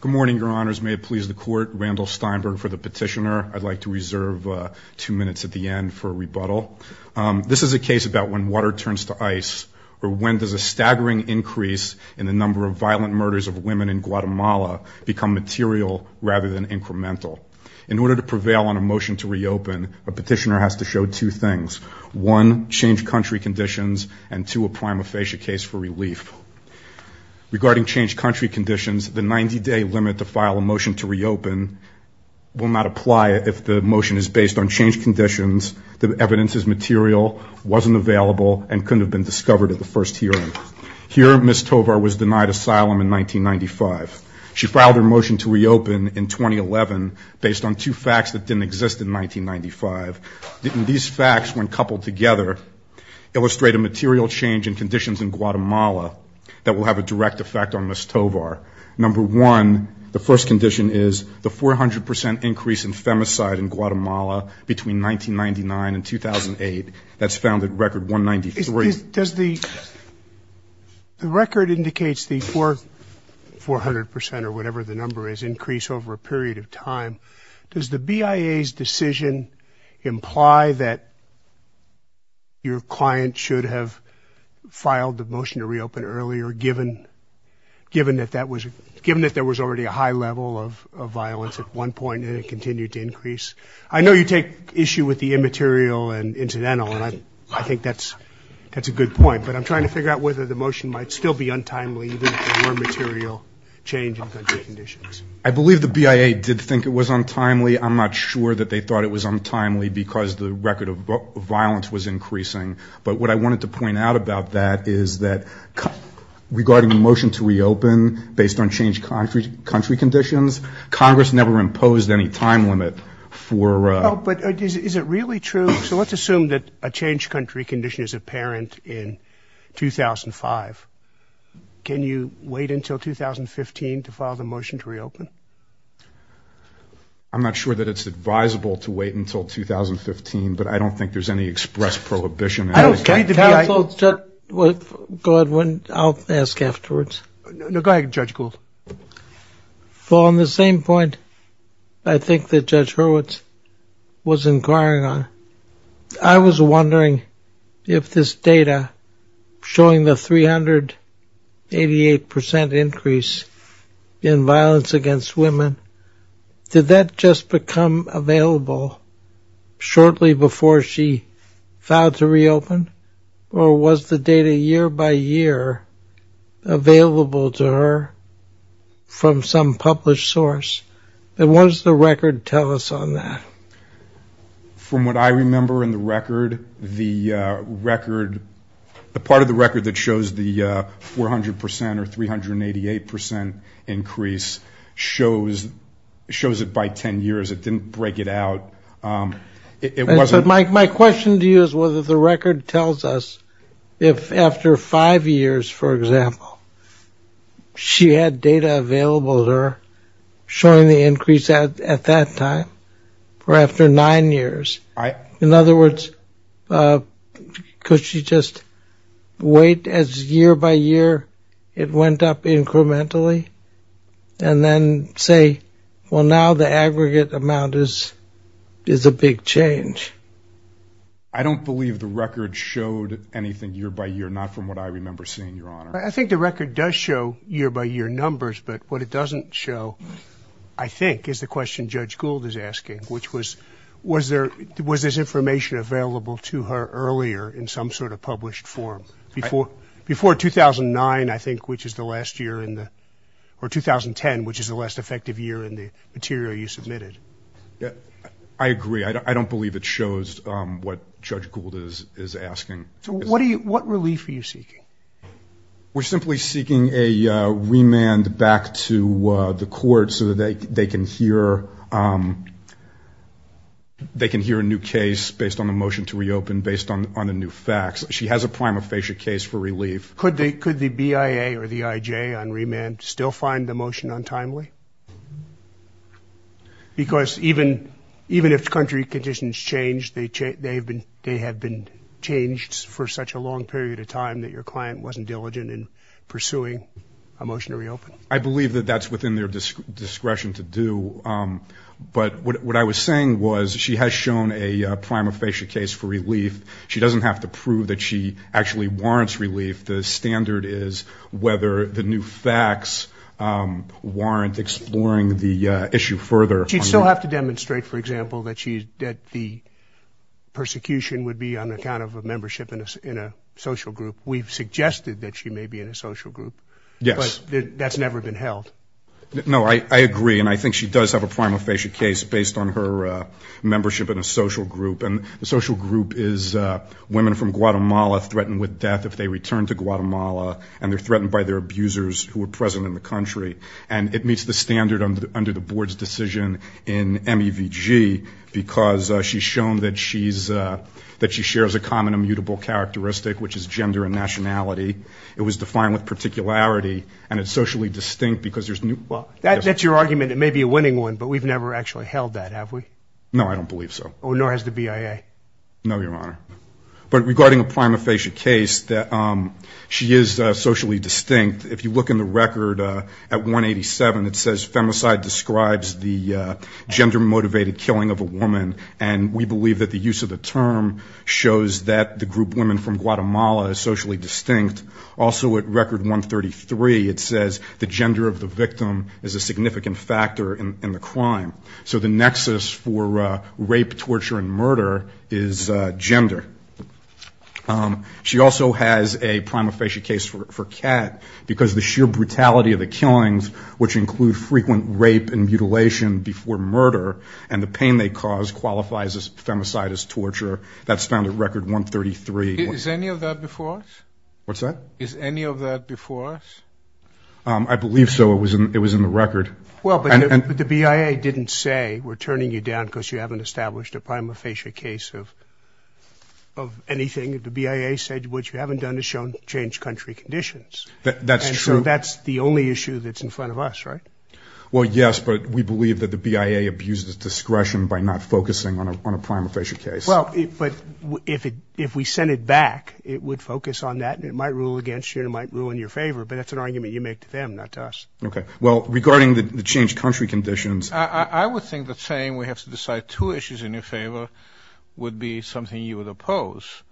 Good morning, your honors. May it please the court, Randall Steinberg for the petitioner. I'd like to reserve two minutes at the end for a rebuttal. This is a case about when water turns to ice, or when does a staggering increase in the number of violent murders of women in Guatemala become material rather than incremental. In order to prevail on a motion to reopen, a petitioner has to show two things. One, change country conditions, and two, a prima facie case for relief. Regarding change country conditions, the 90-day limit to file a motion to reopen will not apply if the motion is based on changed conditions, the evidence is material, wasn't available, and couldn't have been discovered at the first hearing. Here, Ms. Tovar was denied asylum in 1995. She filed her motion to reopen in 2011 based on two facts that didn't exist in 1995. These facts, when coupled together, illustrate a material change in conditions in Guatemala that will have a direct effect on Ms. Tovar. Number one, the first condition is the 400 percent increase in femicide in Guatemala between 1999 and 2008. That's found at record 193. Judge Silberman The record indicates the 400 percent or whatever the number is increase over a period of time. Does the BIA's decision imply that your client should have filed the motion to reopen earlier given that there was already a high level of violence at one point and it continued to increase? I know you take issue with the immaterial and incidental and I think that's a good point, but I'm trying to figure out whether the motion might still be untimely even if there were material change in country conditions. Judge Silberman I believe the BIA did think it was untimely. I'm not sure that they thought it was untimely because the record of violence was increasing, but what I wanted to point out about that is that regarding the motion to reopen based on changed country conditions, Congress never imposed any time limit for... Judge Silberman Oh, but is it really true? So let's assume that a changed country condition is apparent in 2005. Can you wait until 2015 to file the motion to reopen? Judge Gould I'm not sure that it's advisable to wait until 2015, but I don't think there's any express prohibition... Judge Silberman I don't think the BIA... Judge Kahlil I don't think the BIA... Judge Kahlil Judge Gould, I'll ask afterwards. Judge Gould No, go ahead, Judge Gould. Judge Kahlil Well, on the same point, I think that Judge Hurwitz was inquiring on. I was wondering if this data showing the 388% increase in violence against women, did that just become available shortly before she filed to reopen? Or was the data year by year available to her from some published source? And what does the record tell us on that? From what I remember in the record, the record, the part of the record that shows the 400% or 388% increase shows it by 10 years. It didn't break it out. It wasn't... Judge Silberman My question to you is whether the record tells us if after five years, for example, she had data available to her showing the increase at that time, or after five years or after nine years. In other words, could she just wait as year by year it went up incrementally, and then say, well, now the aggregate amount is a big change? Judge Kahlil I don't believe the record showed anything year by year, not from what I remember seeing, Your Honor. Judge Kahlil I think the record does show year by year numbers, but what it doesn't show, I think, is the question Judge Gould is asking, which was, was there, was this information available to her earlier in some sort of published form? Before 2009, I think, which is the last year in the, or 2010, which is the last effective year in the material you submitted? Judge Silberman I agree. I don't believe it shows what Judge Gould is asking. Judge Kahlil So what are you, what relief are you seeking? Judge Silberman We're simply seeking a remand back to the court so that they can hear, they can hear a new case based on the motion to reopen, based on the new facts. She has a prima facie case for relief. Judge Kahlil Could the BIA or the IJ on remand still find the motion untimely? Because even if country conditions change, they have been changed for such a long period of time that your client wasn't diligent in pursuing a motion to reopen. Judge Silberman I believe that that's within their discretion to do. But what I was saying was she has shown a prima facie case for relief. She doesn't have to prove that she actually warrants relief. The standard is whether the new facts warrant exploring the issue further. Judge Kahlil She'd still have to demonstrate, for example, that she, that the persecution would be on account of a membership in a social group. We've suggested that she may be in a social group. Judge Silberman Yes. Judge Kahlil But that's never been held. Judge Silberman No, I agree. And I think she does have a prima facie case based on her membership in a social group. And the social group is women from Guatemala threatened with death if they return to Guatemala, and they're threatened by their abusers who are present in the country. And it meets the standard under the board's decision in MEVG, because she's shown that she's, that she shares a common immutable characteristic, which is gender and nationality. It was defined with particularity, and it's socially distinct because there's Judge Kahlil Well, that's your argument. It may be a winning one, but we've never actually held that, have we? Judge Silberman No, I don't believe so. Judge Kahlil Oh, nor has the BIA. Judge Silberman No, Your Honor. But regarding a prima facie case, that she is socially distinct, if you look in the record at 187, it says femicide describes the gender-motivated killing of a woman, and we believe that the use of the term shows that the group women from Guatemala is socially distinct. Also at record 133, it says the gender of the victim is a significant factor in the crime. So the nexus for rape, torture, and murder is gender. She also has a prima facie case for CAT, because the sheer brutality of the killings, which is the pain they cause, qualifies as femicide, as torture. That's found at record 133. Judge Kahlil Is any of that before us? Judge Silberman What's that? Judge Kahlil Is any of that before us? Judge Silberman I believe so. It was in the record. Judge Kahlil Well, but the BIA didn't say, we're turning you down because you haven't established a prima facie case of anything. The BIA said what you haven't done is shown to change country conditions. Judge Silberman That's true. Judge Kahlil And so that's the only issue that's in front of us, right? Judge Silberman Well, yes, but we believe that the BIA abuses discretion by not focusing on a prima facie case. Judge Kahlil Well, but if we sent it back, it would focus on that, and it might rule against you, and it might rule in your favor. But that's an argument you make to them, not to us. Judge Silberman Okay. Well, regarding the changed country conditions... Dr. R. R. R. R. I would think that saying we have to decide two issues in your favor would be something you would oppose.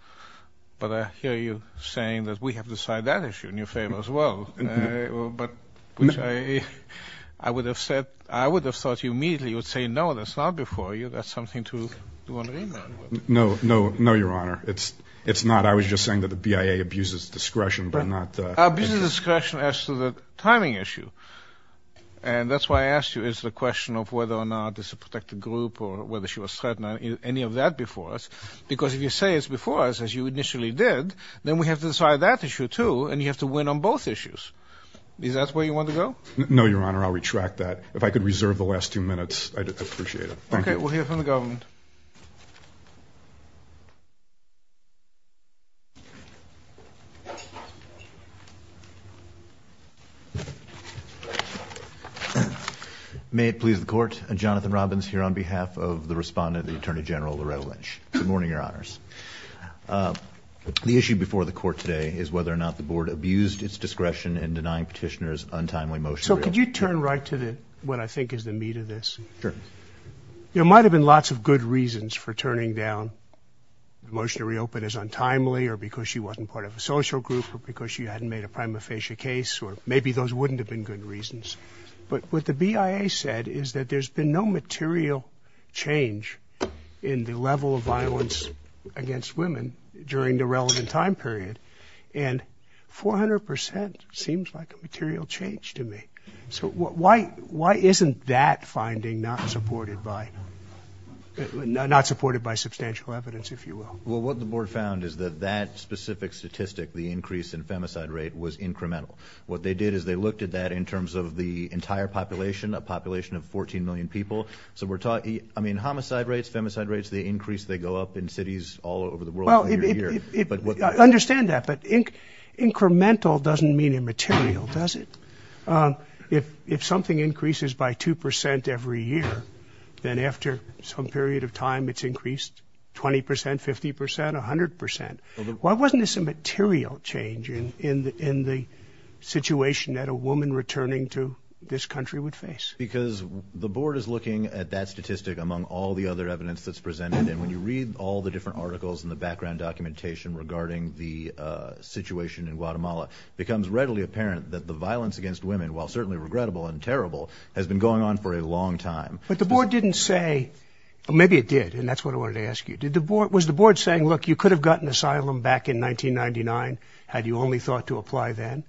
But I hear you saying that we have to decide that I would have said... I would have thought you immediately would say, no, that's not before you. That's something to do on remand. Judge Silberman No, no, no, Your Honor. It's not. I was just saying that the BIA abuses Dr. R. R. R. I abuses discretion as to the timing issue. And that's why I asked you is the question of whether or not it's a protected group or whether she was threatened or any of that before us. Because if you say it's before us, as you initially did, then we have to decide that issue, too, and you have to win on both issues. Is that where you want to go? Judge Silberman No, Your Honor. I'll retract that. If I could reserve the last two minutes, I'd appreciate it. Thank you. Dr. R. R. R. Okay. We'll hear from the government. Jonathan Robbins May it please the Court. Jonathan Robbins here on behalf of the Respondent, the Attorney General, Loretta Lynch. Good morning, Your Honors. The issue before the Court today is whether or not the Board abused its discretion in denying petitioners untimely motion to reopen. Judge Silberman So could you turn right to what I think is the meat of this? Jonathan Robbins Sure. Judge Silberman There might have been lots of good reasons for turning down the motion to reopen as untimely or because she wasn't part of a social group or because she hadn't made a prima facie case, or maybe those wouldn't have been good reasons. But what the BIA said is that there's been no material change in the level of violence against women during the relevant time period. And 400 percent seems like a material change to me. So why isn't that finding not supported by substantial evidence, if you will? Jonathan Robbins Well, what the Board found is that that specific statistic, the increase in femicide rate, was incremental. What they did is they looked at that in terms of the entire population, a population of 14 million people. So we're talking, I mean, homicide rates, femicide rates, the increase they go up in cities all over the world every year. Judge Silberman I understand that, but incremental doesn't mean immaterial, does it? If something increases by 2 percent every year, then after some period of time it's increased 20 percent, 50 percent, 100 percent. Why wasn't this a material change in the situation that a woman returning to this country would face? Jonathan Robbins Because the Board is looking at that statistic among all the other evidence that's presented. And when you read all the different articles and the background documentation regarding the situation in Guatemala, it becomes readily apparent that the violence against women, while certainly regrettable and terrible, has been going on for a long time. Judge Silberman But the Board didn't say, well, maybe it did, and that's what I wanted to ask you. Did the Board, was the Board saying, look, you could have gotten asylum back in 1999 had you only thought to apply then?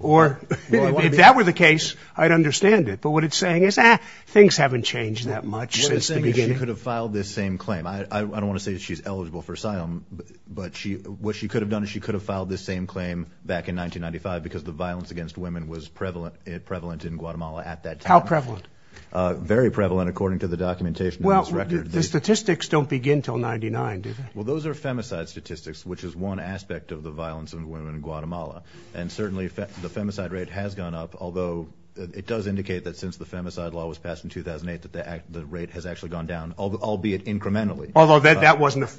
Or if that were the case, I'd understand it. But what it's saying is, ah, things haven't changed that much since the beginning. Jonathan Robbins She could have filed this same claim. I don't want to say she's eligible for asylum, but what she could have done is she could have filed this same claim back in 1995 because the violence against women was prevalent in Guatemala at that time. Judge Silberman How prevalent? Jonathan Robbins Very prevalent, according to the documentation in this record. Judge Silberman Well, the statistics don't begin until 1999, do they? Jonathan Robbins Well, those are femicide statistics, which is one aspect of the violence of women in Guatemala. And certainly the femicide rate has gone up, although it does indicate that since the femicide law was passed in 2008 that the rate has actually gone down, albeit incrementally. Judge Silberman Although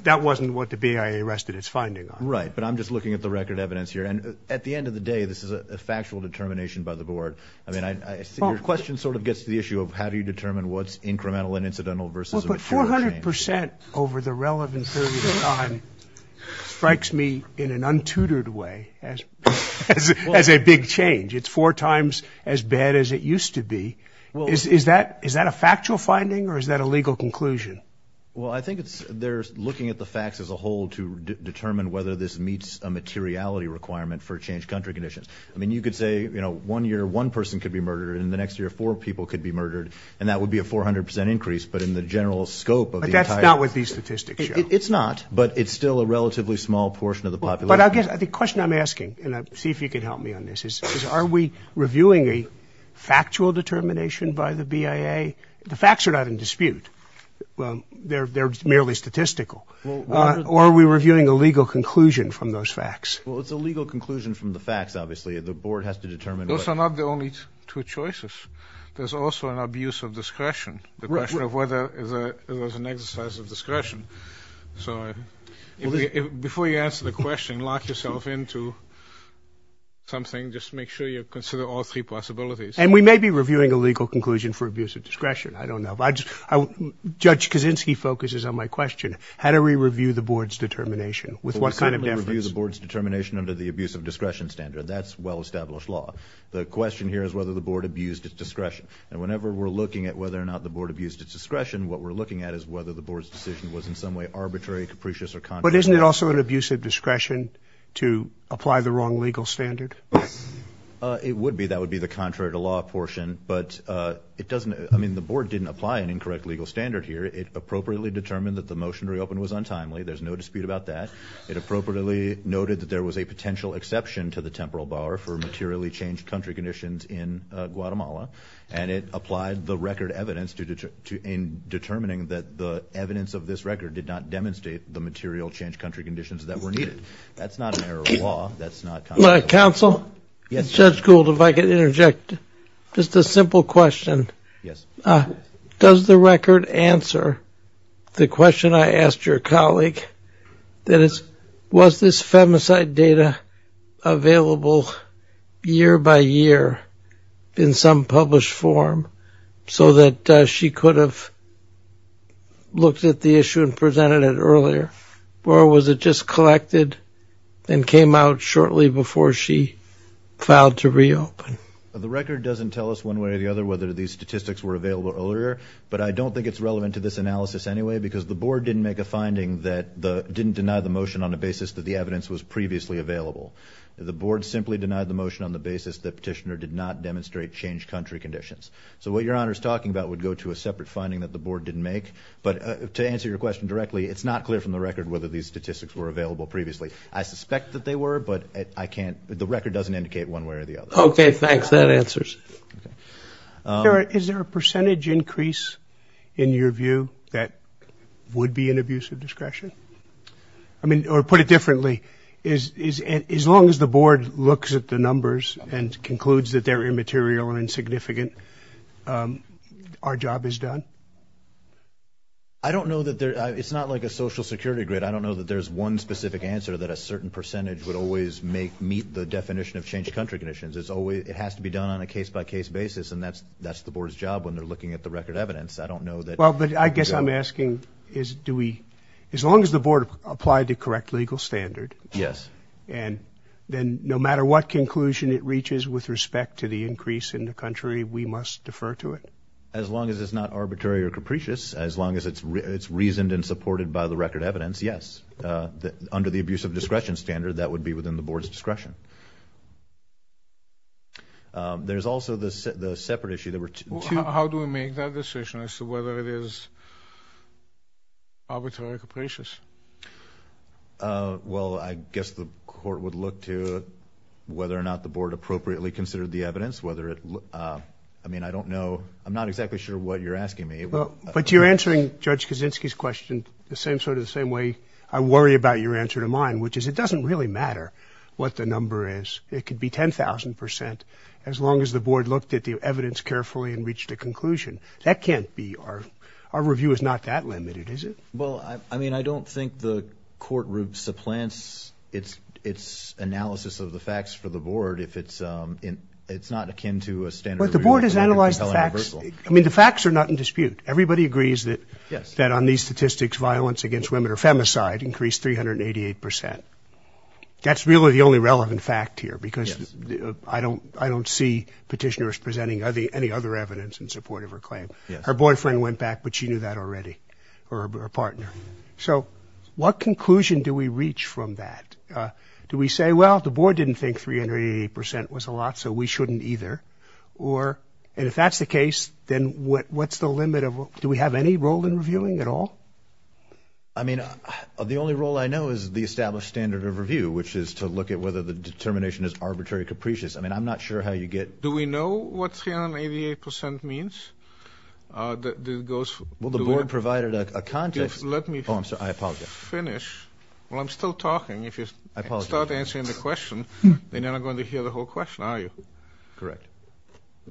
that wasn't what the BIA rested its finding on. Jonathan Robbins Right, but I'm just looking at the record evidence here. And at the end of the day, this is a factual determination by the Board. I mean, your question sort of gets to the issue of how do you determine what's incremental and incidental versus material change. Judge Silberman Well, but 400 percent over the relevant period of time strikes me in an untutored way as a big change. It's four times as bad as it used to be. Is that a factual finding or is that a legal conclusion? Jonathan Robbins Well, I think they're looking at the facts as a whole to determine whether this meets a materiality requirement for changed country conditions. I mean, you could say one year one person could be murdered and the next year four people could be murdered and that would be a 400 percent increase. But in the general scope of the entire... Judge Silberman But that's not what these statistics show. Jonathan Robbins It's not, but it's still a relatively small portion of the population. Judge Silberman But I guess the question I'm asking, and see if you can help me on this, is are we reviewing a factual determination by the BIA? The facts are not in dispute. Well, they're merely statistical. Or are we reviewing a legal conclusion from those facts? Jonathan Robbins Well, it's a legal conclusion from the facts, obviously. The Board has to determine what... Judge Silberman Those are not the only two choices. There's also an abuse of discretion, the question of whether it was an exercise of discretion. So before you answer the question, lock yourself into something. Just make sure you consider all three possibilities. Jonathan Robbins And we may be reviewing a legal conclusion for abuse of discretion. I don't know. Judge Kaczynski focuses on my question. How do we review the Board's determination? With what kind of... Judge Silberman We certainly review the Board's determination under the abuse of discretion standard. That's well-established law. The question here is whether the Board abused its discretion. And whenever we're looking at whether or not the Board abused its discretion, what we're looking at is whether the Board's decision was in some way arbitrary, capricious or contrary... to apply the wrong legal standard. Jonathan Robbins It would be. That would be the contrary to law portion. But it doesn't... I mean, the Board didn't apply an incorrect legal standard here. It appropriately determined that the motion to reopen was untimely. There's no dispute about that. It appropriately noted that there was a potential exception to the temporal bar for materially changed country conditions in Guatemala. And it applied the record evidence in determining that the evidence of this record did not demonstrate the material changed country conditions that were needed. That's not an error of law. That's not constitutional law. Judge Gold Yes. Judge Silberman Judge Gold, if I could interject. Just a simple question. Judge Gold Yes. Judge Silberman Does the record answer the question I asked your colleague? That is, was this femicide data available year by year in some published form so that she could have looked at the issue and presented it earlier? Or was it just collected and came out shortly before she filed to reopen? Judge Gold The record doesn't tell us one way or the other whether these statistics were available earlier. But I don't think it's relevant to this analysis anyway because the Board didn't make a finding that the... didn't deny the motion on the basis that the evidence was previously available. The Board simply denied the motion on the basis that Petitioner did not demonstrate changed country conditions. So what Your Honor is talking about would go to a separate finding that the Board didn't make. But to answer your question directly, it's not clear from the record whether these statistics were available previously. I suspect that they were, but I can't... the record doesn't indicate one way or the other. Judge Silberman Okay. Thanks. That answers. Judge Gold Is there a percentage increase in your view that would be an abuse of discretion? I mean, or put it differently, as long as the Board looks at the numbers and concludes that they're immaterial and insignificant, our job is done? Judge Silberman I don't know that there... it's not like a social security grid. I don't know that there's one specific answer that a certain percentage would always make... meet the definition of changed country conditions. It's always... it has to be done on a case by case basis, and that's the Board's job when they're looking at the record evidence. I don't know that... Judge Gold Well, but I guess I'm asking is do we... as long as the Board applied the correct legal standard... Judge Silberman Yes. Judge Gold ...and then no matter what conclusion it reaches with respect to the increase in the country, we must defer to it? Judge Silberman As long as it's not arbitrary or capricious, as long as it's reasoned and supported by the record evidence, yes. Under the abuse of discretion standard, that would be within the Board's discretion. There's also the separate issue... Judge Gold How do we make that decision as to whether it is arbitrary or capricious? Judge Silberman Well, I guess the Court would look to whether or not the Board appropriately considered the evidence, whether it... I mean, I don't know... I'm not exactly sure what you're asking me. Judge Gold Well, but you're answering Judge Kaczynski's question the same sort of the same way I worry about your answer to mine, which is it doesn't really matter what the number is. It could be 10,000 percent as long as the Board looked at the evidence carefully and reached a conclusion. That can't be our... our review is not that limited, is it? Judge Silberman Well, I mean, I don't think the Court supplants its... its analysis of the facts for the Board if it's... it's not akin to a standard... Judge Gold Well, the Board has analyzed the facts. I mean, the facts are not in dispute. Everybody agrees that... Judge Silberman Yes. Judge Gold ...that on these statistics, violence against women or femicide increased 388 percent. That's really the only relevant fact here because... Judge Silberman Yes. Judge Gold ...I don't... I don't see petitioners presenting any other evidence in support of her claim. Judge Silberman Yes. Judge Gold Our boyfriend went back, but she knew that already, or her partner. So what conclusion do we reach from that? Do we say, well, the Board didn't think 388 percent was a lot, so we shouldn't either? Or... and if that's the case, then what... what's the limit of... do we have any role in reviewing at all? Judge Silberman I mean, the only role I know is the established standard of review, which is to look at whether the determination is arbitrary capricious. I mean, I'm not sure how you get... 388 percent means that it goes... Judge Gold Well, the Board provided a context... Judge Silberman Let me... Judge Gold Oh, I'm sorry. I apologize. Judge Silberman ...finish. Well, I'm still talking. If you... Judge Gold I apologize. Judge Silberman ...start answering the question, they're not going to hear the whole question, are you? Judge Gold Correct. Judge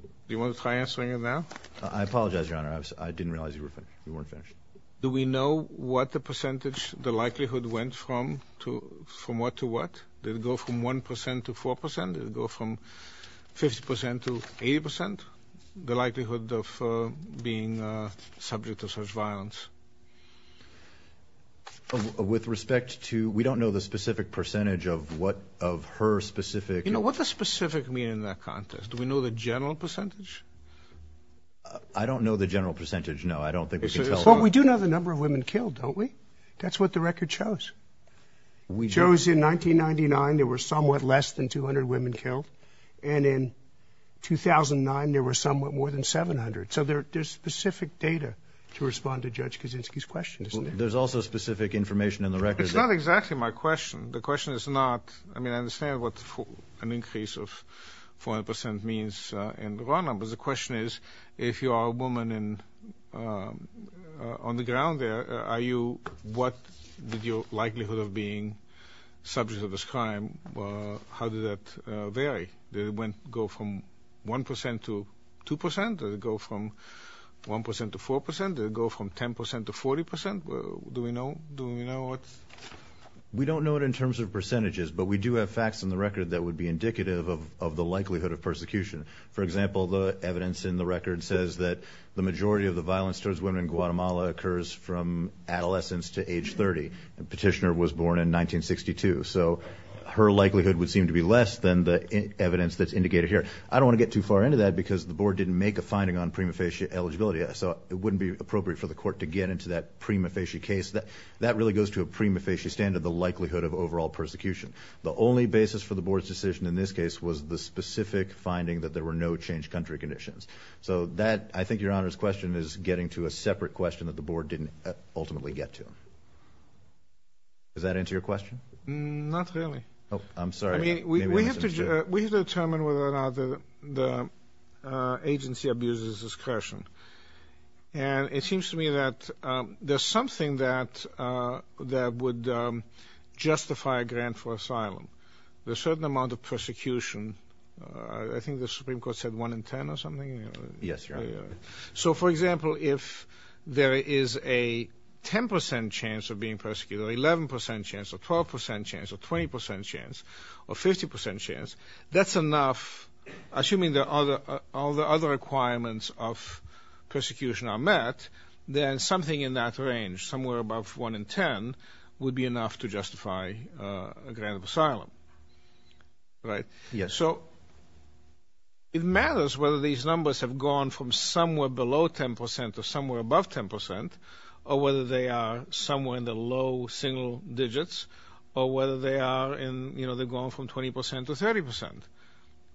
Silberman Do you want to try answering it now? Judge Gold I apologize, Your Honor. I didn't realize you were finished. You weren't finished. Judge Silberman Do we know what the percentage, the likelihood went from to... from what to 50 percent to 80 percent? The likelihood of being subject to such violence? Judge Gold With respect to... we don't know the specific percentage of what... of her specific... Judge Silberman You know, what does specific mean in that context? Do we know the general percentage? Judge Gold I don't know the general percentage, no. I don't think we can tell... Judge Silberman Well, we do know the number of women killed, don't we? That's what the record shows. Judge Gold We do. Judge Silberman In 1999, there were somewhat less than 200 women killed. And in 2009, there were somewhat more than 700. So there... there's specific data to respond to Judge Kaczynski's question, isn't there? Judge Gold There's also specific information in the record that... Judge Silberman It's not exactly my question. The question is not... I mean, I understand what an increase of 400 percent means in the raw numbers. The question is, if you are a subject of this crime, how did that vary? Did it go from 1 percent to 2 percent? Did it go from 1 percent to 4 percent? Did it go from 10 percent to 40 percent? Do we know... do we know what... Judge Gold We don't know it in terms of percentages, but we do have facts in the record that would be indicative of... of the likelihood of persecution. For example, the evidence in the record says that the majority of the violence towards women in Guatemala occurs from adolescence to age 30. The petitioner was born in 1962, so her likelihood would seem to be less than the evidence that's indicated here. I don't want to get too far into that because the Board didn't make a finding on prima facie eligibility, so it wouldn't be appropriate for the Court to get into that prima facie case. That... that really goes to a prima facie standard, the likelihood of overall persecution. The only basis for the Board's decision in this case was the specific finding that there were no changed country conditions. So that, I think, Your Honor's question is getting to a separate question that the Board didn't ultimately get to. Does that answer your question? Judge Gold Not really. Judge Blank I'm sorry. Judge Gold I mean, we have to... we have to determine whether or not the... the agency abuses discretion. And it seems to me that there's something that... that would justify a grant for asylum. There's a certain amount of persecution. I think the Supreme Court said 1 in 10 or something? Judge Blank Yes, Your Honor. Judge Gold So, for example, if there is a 10 percent chance of being persecuted, or 11 percent chance, or 12 percent chance, or 20 percent chance, or 50 percent chance, that's enough, assuming the other... all the other requirements of persecution are met, then something in that range, somewhere above 1 in 10, would be enough to justify a grant of asylum. Right? Judge Blank Yes. Judge Gold So, it matters whether these numbers have gone from somewhere below 10 percent or somewhere above 10 percent, or whether they are somewhere in the low single digits, or whether they are in, you know, they've gone from 20 percent to 30 percent.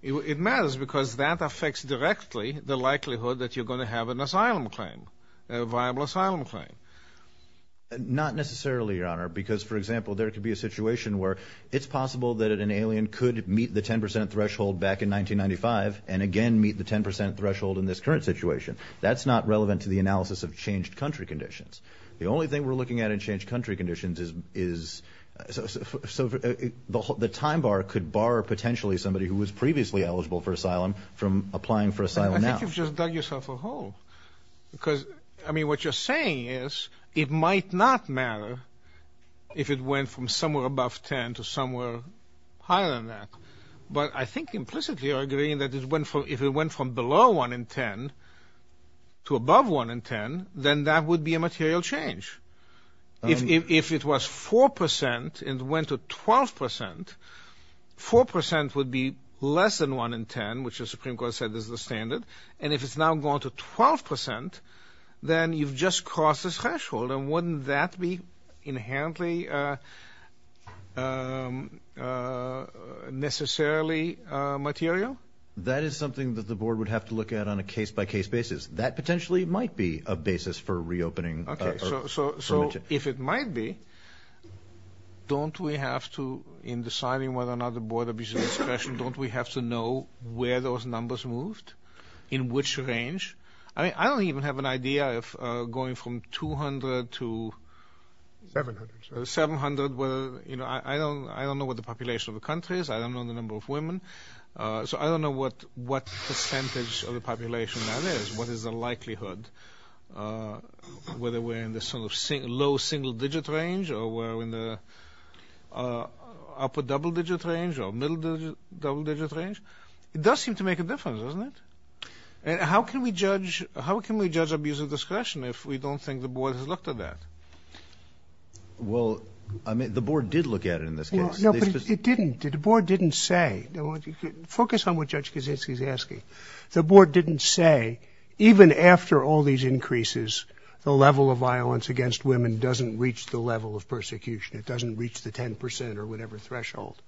It matters because that affects directly the likelihood that you're going to have an asylum claim, a viable asylum claim. Judge Blank Not necessarily, Your Honor, because, for example, there could be a situation where it's possible that an alien could meet the 10 percent threshold back in 1995, and again meet the 10 percent threshold in this current situation. That's not relevant to the analysis of changed country conditions. The only thing we're looking at in changed country conditions is... so the time bar could bar, potentially, somebody who was previously eligible for asylum from applying for asylum now. Judge Sotomayor I think you've just dug yourself a hole. Because, I mean, what you're saying is it might not matter if it went from somewhere above 10 to somewhere higher than that. But I think implicitly you're agreeing that if it went from below 1 in 10 to above 1 in 10, then that would be a material change. If it was 4 percent and went to 12 percent, 4 percent would be less than 1 in 10, which the Supreme Court said is the standard, and if it's now gone to 12 percent, then you've just crossed the threshold, and wouldn't that be inherently necessarily material? Judge Blank That is something that the Board would have to look at on a case-by-case basis. That potentially might be a basis for reopening... Judge Sotomayor Okay, so if it might be, don't we have to, in deciding whether or not the I mean, I don't even have an idea if going from 200 to 700, I don't know what the population of the country is, I don't know the number of women, so I don't know what percentage of the population that is, what is the likelihood, whether we're in the low single-digit range or we're in the upper double-digit range or middle double-digit range. It does seem to How can we judge abuse of discretion if we don't think the Board has looked at that? Judge Blank Well, the Board did look at it in this case. Judge Sotomayor No, but it didn't. The Board didn't say, focus on what Judge Kaczynski is asking. The Board didn't say, even after all these increases, the level of violence against women doesn't reach the level of persecution, it doesn't reach the 10 percent or whatever threshold.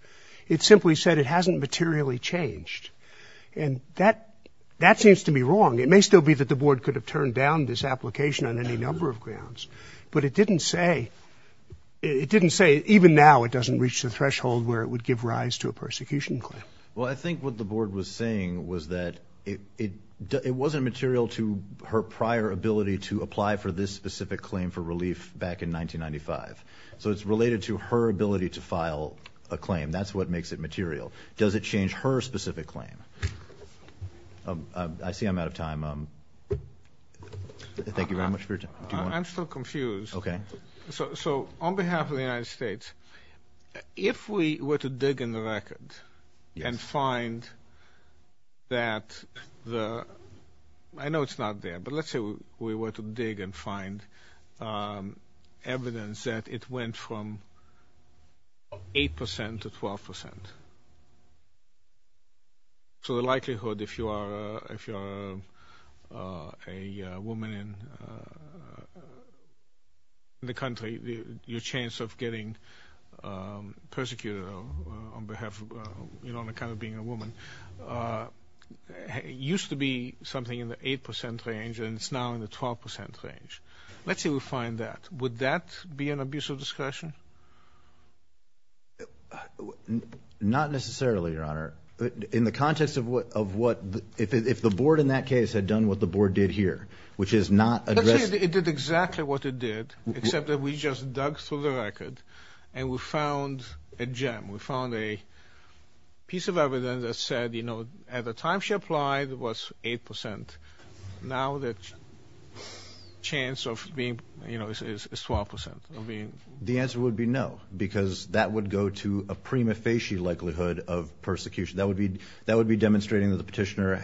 It simply said it hasn't materially changed, and that seems to be wrong. It may still be that the Board could have turned down this application on any number of grounds, but it didn't say, it didn't say even now it doesn't reach the threshold where it would give rise to a persecution claim. Well, I think what the Board was saying was that it wasn't material to her prior ability to apply for this specific claim for relief back in 1995, so it's related to her ability to file a claim. That's what makes it material. Does it change her specific claim? I see I'm out of time. Thank you very much for your time. I'm still confused. Okay. So on behalf of the United States, if we were to dig in the record and find that the, I know it's not there, but let's say we were to dig and find evidence that it went from 8 percent to 12 percent. So the likelihood, if you are a woman in the country, your chance of getting persecuted on behalf, on account of being a woman, used to be something in the 8 percent range, and it's now in the 12 percent range. Let's say we find that. Would that be an abuse of discretion? Not necessarily, Your Honor. In the context of what, if the Board in that case had done what the Board did here, which is not address... Let's say it did exactly what it did, except that we just dug through the record and we found a gem. We found a piece of evidence that said, you know, at the time she applied it was 8 percent. Now the chance of being, you know, is 12 percent. The answer would be no, because that would go to a prima facie likelihood of persecution. That would be demonstrating that the petitioner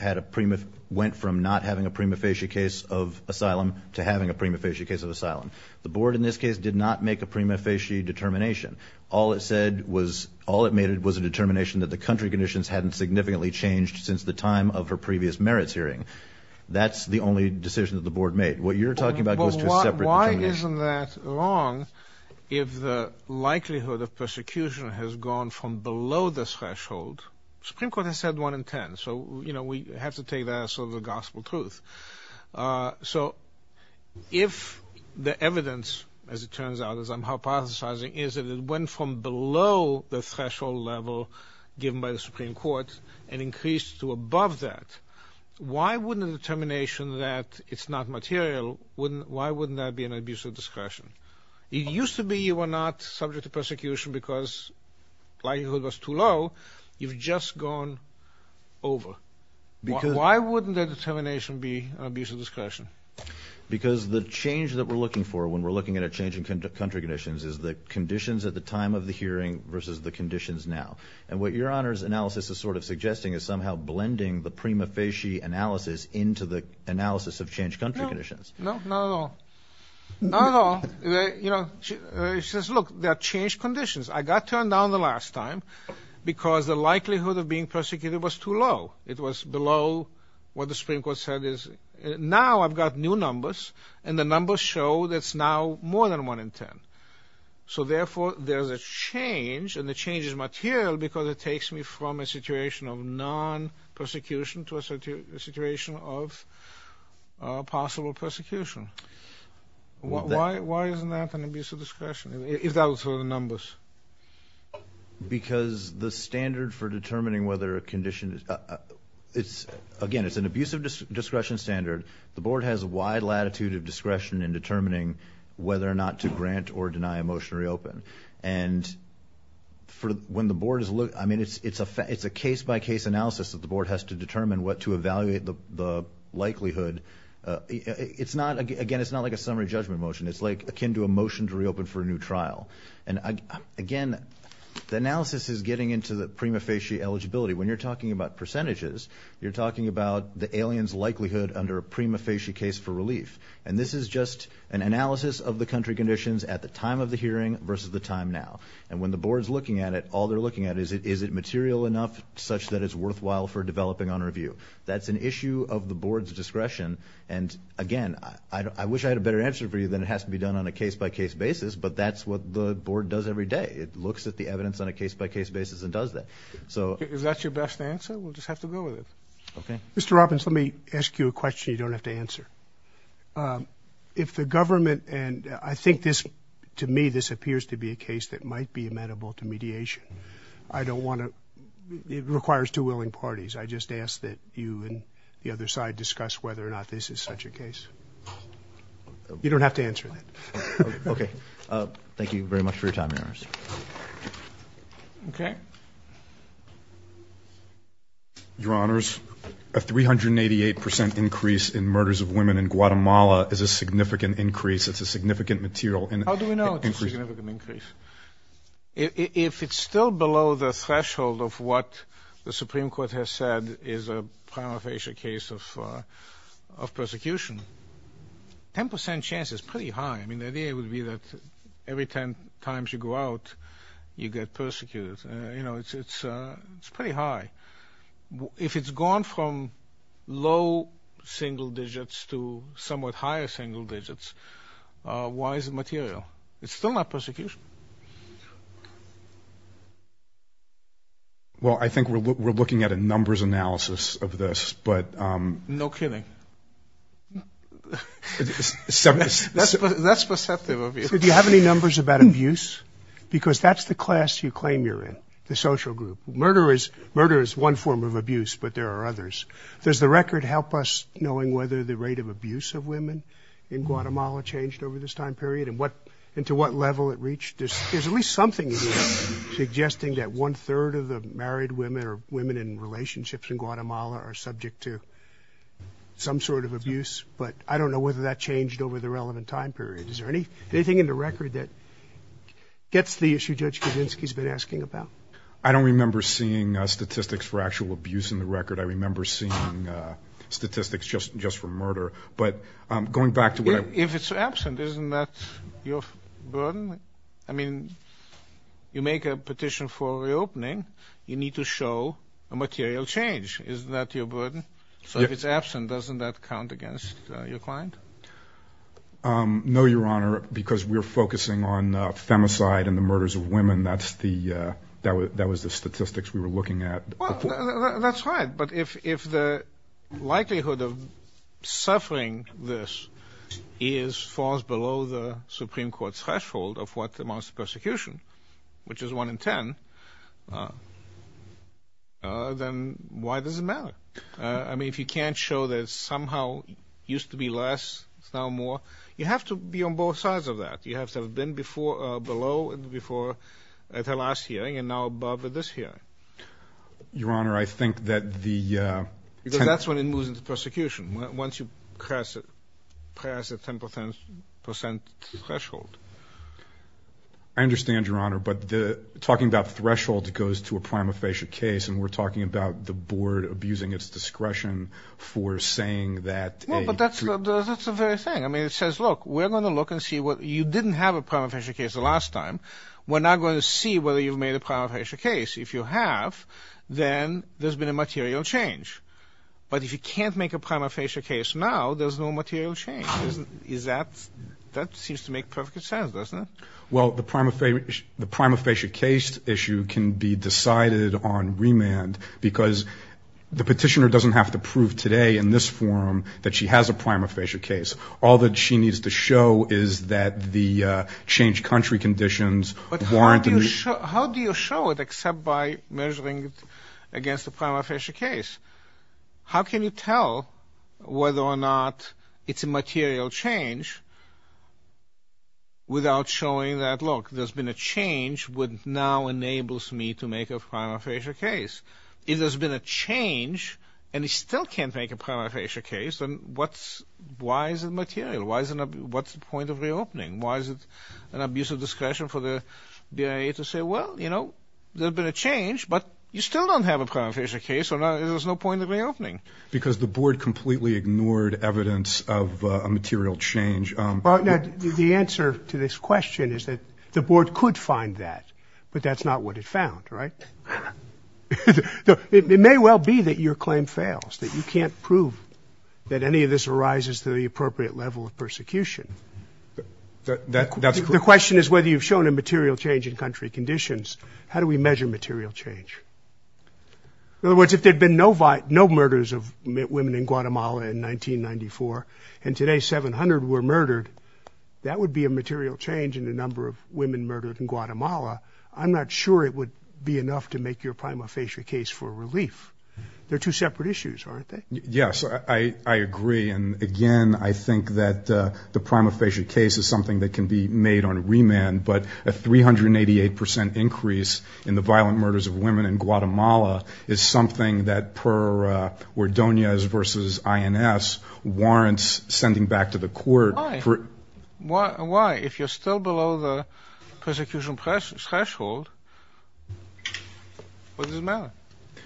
went from not having a prima facie case of asylum to having a prima facie case of asylum. The Board in this case did not make a prima facie determination. All it said was, all it made was a determination that the country conditions hadn't significantly changed since the time of her previous merits hearing. That's the only decision that the Board made. What you're talking about goes to a separate determination. But why isn't that wrong if the likelihood of persecution has gone from below the threshold? The Supreme Court has said 1 in 10, so, you know, we have to take that as sort of a gospel truth. So if the evidence, as it turns out, as I'm hypothesizing, is that it went from below the threshold level given by the Supreme Court and increased to above that, why wouldn't a determination that it's not material, why wouldn't that be an abuse of discretion? It used to be you were not subject to persecution because likelihood was too low. You've just gone over. Why wouldn't that determination be an abuse of discretion? Because the change that we're looking for when we're looking at a change in country conditions is the conditions at the time of the hearing versus the conditions now. And what your Honor's analysis is sort of suggesting is somehow blending the prima facie analysis into the analysis of changed country conditions. No, not at all. Not at all. You know, she says, look, there are changed conditions. I got turned down the last time because the likelihood of being persecuted was too low. It was below what the Supreme Court said is, now I've got new numbers, and the numbers show that it's now more than 1 in 10. So therefore, there's a change, and the change is material because it takes me from a situation of non-persecution to a situation of possible persecution. Why isn't that an abuse of discretion, if that was sort of the numbers? Because the standard for determining whether a condition is, again, it's an abuse of discretion standard, the Board has a wide latitude of discretion in determining whether or not to grant or deny a motion to reopen. And when the Board is looking, I mean, it's a case-by-case analysis that the Board has to determine what to evaluate the likelihood. Again, it's not like a summary judgment motion. It's akin to a motion to reopen for a new trial. Again, the analysis is getting into the prima facie eligibility. When you're talking about percentages, you're talking about the alien's likelihood under a prima facie case for relief. And this is just an analysis of the country conditions at the time of the hearing versus the time now. And when the Board's looking at it, all they're looking at is, is it material enough such that it's worthwhile for developing on review? That's an issue of the Board's discretion. And again, I wish I had a better answer for you than it has to be done on a case-by-case basis, but that's what the Board does every day. It looks at the evidence on a case-by-case basis and does that. Is that your best answer? We'll just have to go with it. Okay. Mr. Robbins, let me ask you a question you don't have to answer. If the government, and I think this, to me, this appears to be a case that might be amenable to mediation, I don't want to, it requires two willing parties. I just ask that you and the other side discuss whether or not this is such a case. You don't have to answer that. Okay. Thank you very much for your time, Your Honor. Okay. Your Honors, a 388 percent increase in murders of women in Guatemala is a significant increase. It's a significant material increase. How do we know it's a significant increase? If it's still below the threshold of what the Supreme Court has said is a prima facie case of persecution, 10 percent chance is pretty high. I mean, the idea would be that every 10 times you go out, you get persecuted. You know, it's pretty high. If it's gone from low single digits to somewhat higher single digits, why is it material? It's still not persecution. Well, I think we're looking at a numbers analysis of this. No kidding. That's perceptive abuse. Do you have any numbers about abuse? Because that's the class you claim you're in, the social group. Murder is one form of abuse, but there are others. Does the record help us knowing whether the rate of abuse of women in Guatemala changed over this time period and to what level it reached? There's at least something here suggesting that one-third of the married women or women in relationships in Guatemala are subject to some sort of abuse. But I don't know whether that changed over the relevant time period. Is there anything in the record that gets the issue Judge Kavinsky's been asking about? I don't remember seeing statistics for actual abuse in the record. I remember seeing statistics just for murder. But going back to what I – If it's absent, isn't that your burden? I mean, you make a petition for reopening. You need to show a material change. Isn't that your burden? So if it's absent, doesn't that count against your client? No, Your Honor, because we're focusing on femicide and the murders of women. That's the – that was the statistics we were looking at. Well, that's right. But if the likelihood of suffering this is far below the Supreme Court threshold of what amounts to persecution, which is 1 in 10, then why does it matter? I mean, if you can't show that somehow it used to be less, it's now more, you have to be on both sides of that. You have to have been below and before at the last hearing and now above at this hearing. Your Honor, I think that the – Because that's when it moves into persecution, once you pass the 10 percent threshold. I understand, Your Honor, but talking about thresholds goes to a prima facie case, and we're talking about the board abusing its discretion for saying that a – Well, but that's the very thing. I mean, it says, look, we're going to look and see what – you didn't have a prima facie case the last time. We're now going to see whether you've made a prima facie case. If you have, then there's been a material change. But if you can't make a prima facie case now, there's no material change. That seems to make perfect sense, doesn't it? Well, the prima facie case issue can be decided on remand because the petitioner doesn't have to prove today in this forum that she has a prima facie case. All that she needs to show is that the changed country conditions warrant – But how do you show it except by measuring it against the prima facie case? How can you tell whether or not it's a material change without showing that, look, there's been a change which now enables me to make a prima facie case? If there's been a change and you still can't make a prima facie case, then what's – why is it material? What's the point of reopening? Why is it an abuse of discretion for the BIA to say, well, you know, there's been a change, but you still don't have a prima facie case, so there's no point in reopening? Because the board completely ignored evidence of a material change. Now, the answer to this question is that the board could find that, but that's not what it found, right? It may well be that your claim fails, that you can't prove that any of this arises to the appropriate level of persecution. That's – The question is whether you've shown a material change in country conditions. How do we measure material change? In other words, if there had been no murders of women in Guatemala in 1994, and today 700 were murdered, that would be a material change in the number of women murdered in Guatemala. I'm not sure it would be enough to make your prima facie case for relief. They're two separate issues, aren't they? Yes, I agree. And, again, I think that the prima facie case is something that can be made on remand, but a 388 percent increase in the violent murders of women in Guatemala is something that, per Ordonez v. INS, warrants sending back to the court. Why? Why? If you're still below the persecution threshold, what does it matter?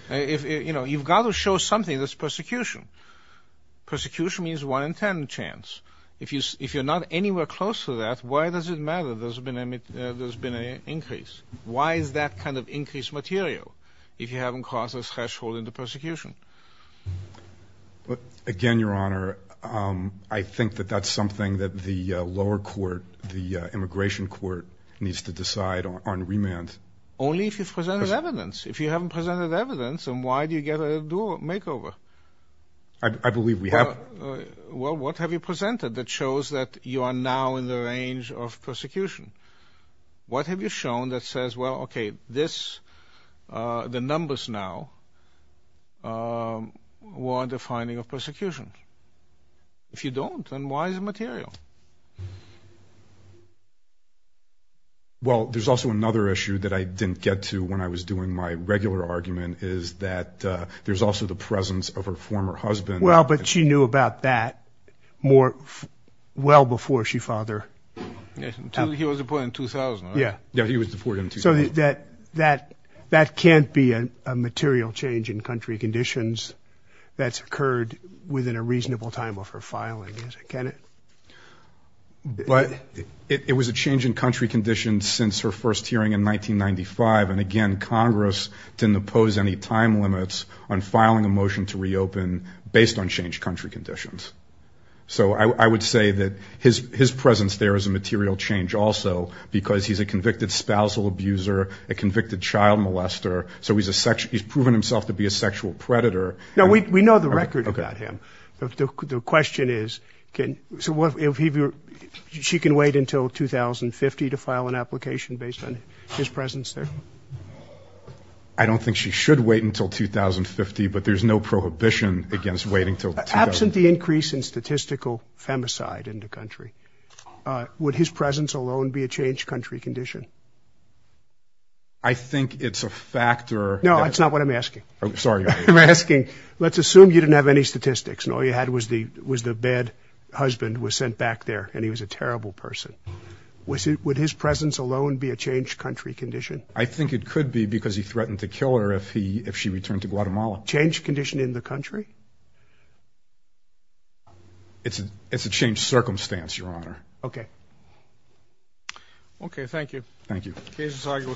You've got to show something that's persecution. Persecution means 1 in 10 chance. If you're not anywhere close to that, why does it matter? Why does it matter that there's been an increase? Why is that kind of increased material if you haven't crossed the threshold into persecution? Again, Your Honor, I think that that's something that the lower court, the immigration court, needs to decide on remand. Only if you've presented evidence. If you haven't presented evidence, then why do you get a makeover? I believe we have. Well, what have you presented that shows that you are now in the range of persecution? What have you shown that says, well, okay, this, the numbers now, were the finding of persecution? If you don't, then why is it material? Well, there's also another issue that I didn't get to when I was doing my regular argument is that there's also the presence of her former husband. Well, but she knew about that more well before she fathered. He was deported in 2000, right? Yeah. Yeah, he was deported in 2000. So that can't be a material change in country conditions that's occurred within a reasonable time of her filing, can it? But it was a change in country conditions since her first hearing in 1995, and, again, Congress didn't impose any time limits on filing a motion to reopen based on changed country conditions. So I would say that his presence there is a material change also because he's a convicted spousal abuser, a convicted child molester, so he's proven himself to be a sexual predator. No, we know the record about him. Okay. The question is, so she can wait until 2050 to file an application based on his presence there? I don't think she should wait until 2050, but there's no prohibition against waiting until 2050. Absent the increase in statistical femicide in the country, would his presence alone be a changed country condition? I think it's a factor. No, that's not what I'm asking. Oh, sorry. I'm asking, let's assume you didn't have any statistics and all you had was the bad husband was sent back there and he was a terrible person. Would his presence alone be a changed country condition? I think it could be because he threatened to kill her if she returned to Guatemala. Changed condition in the country? It's a changed circumstance, Your Honor. Okay. Okay, thank you. Thank you.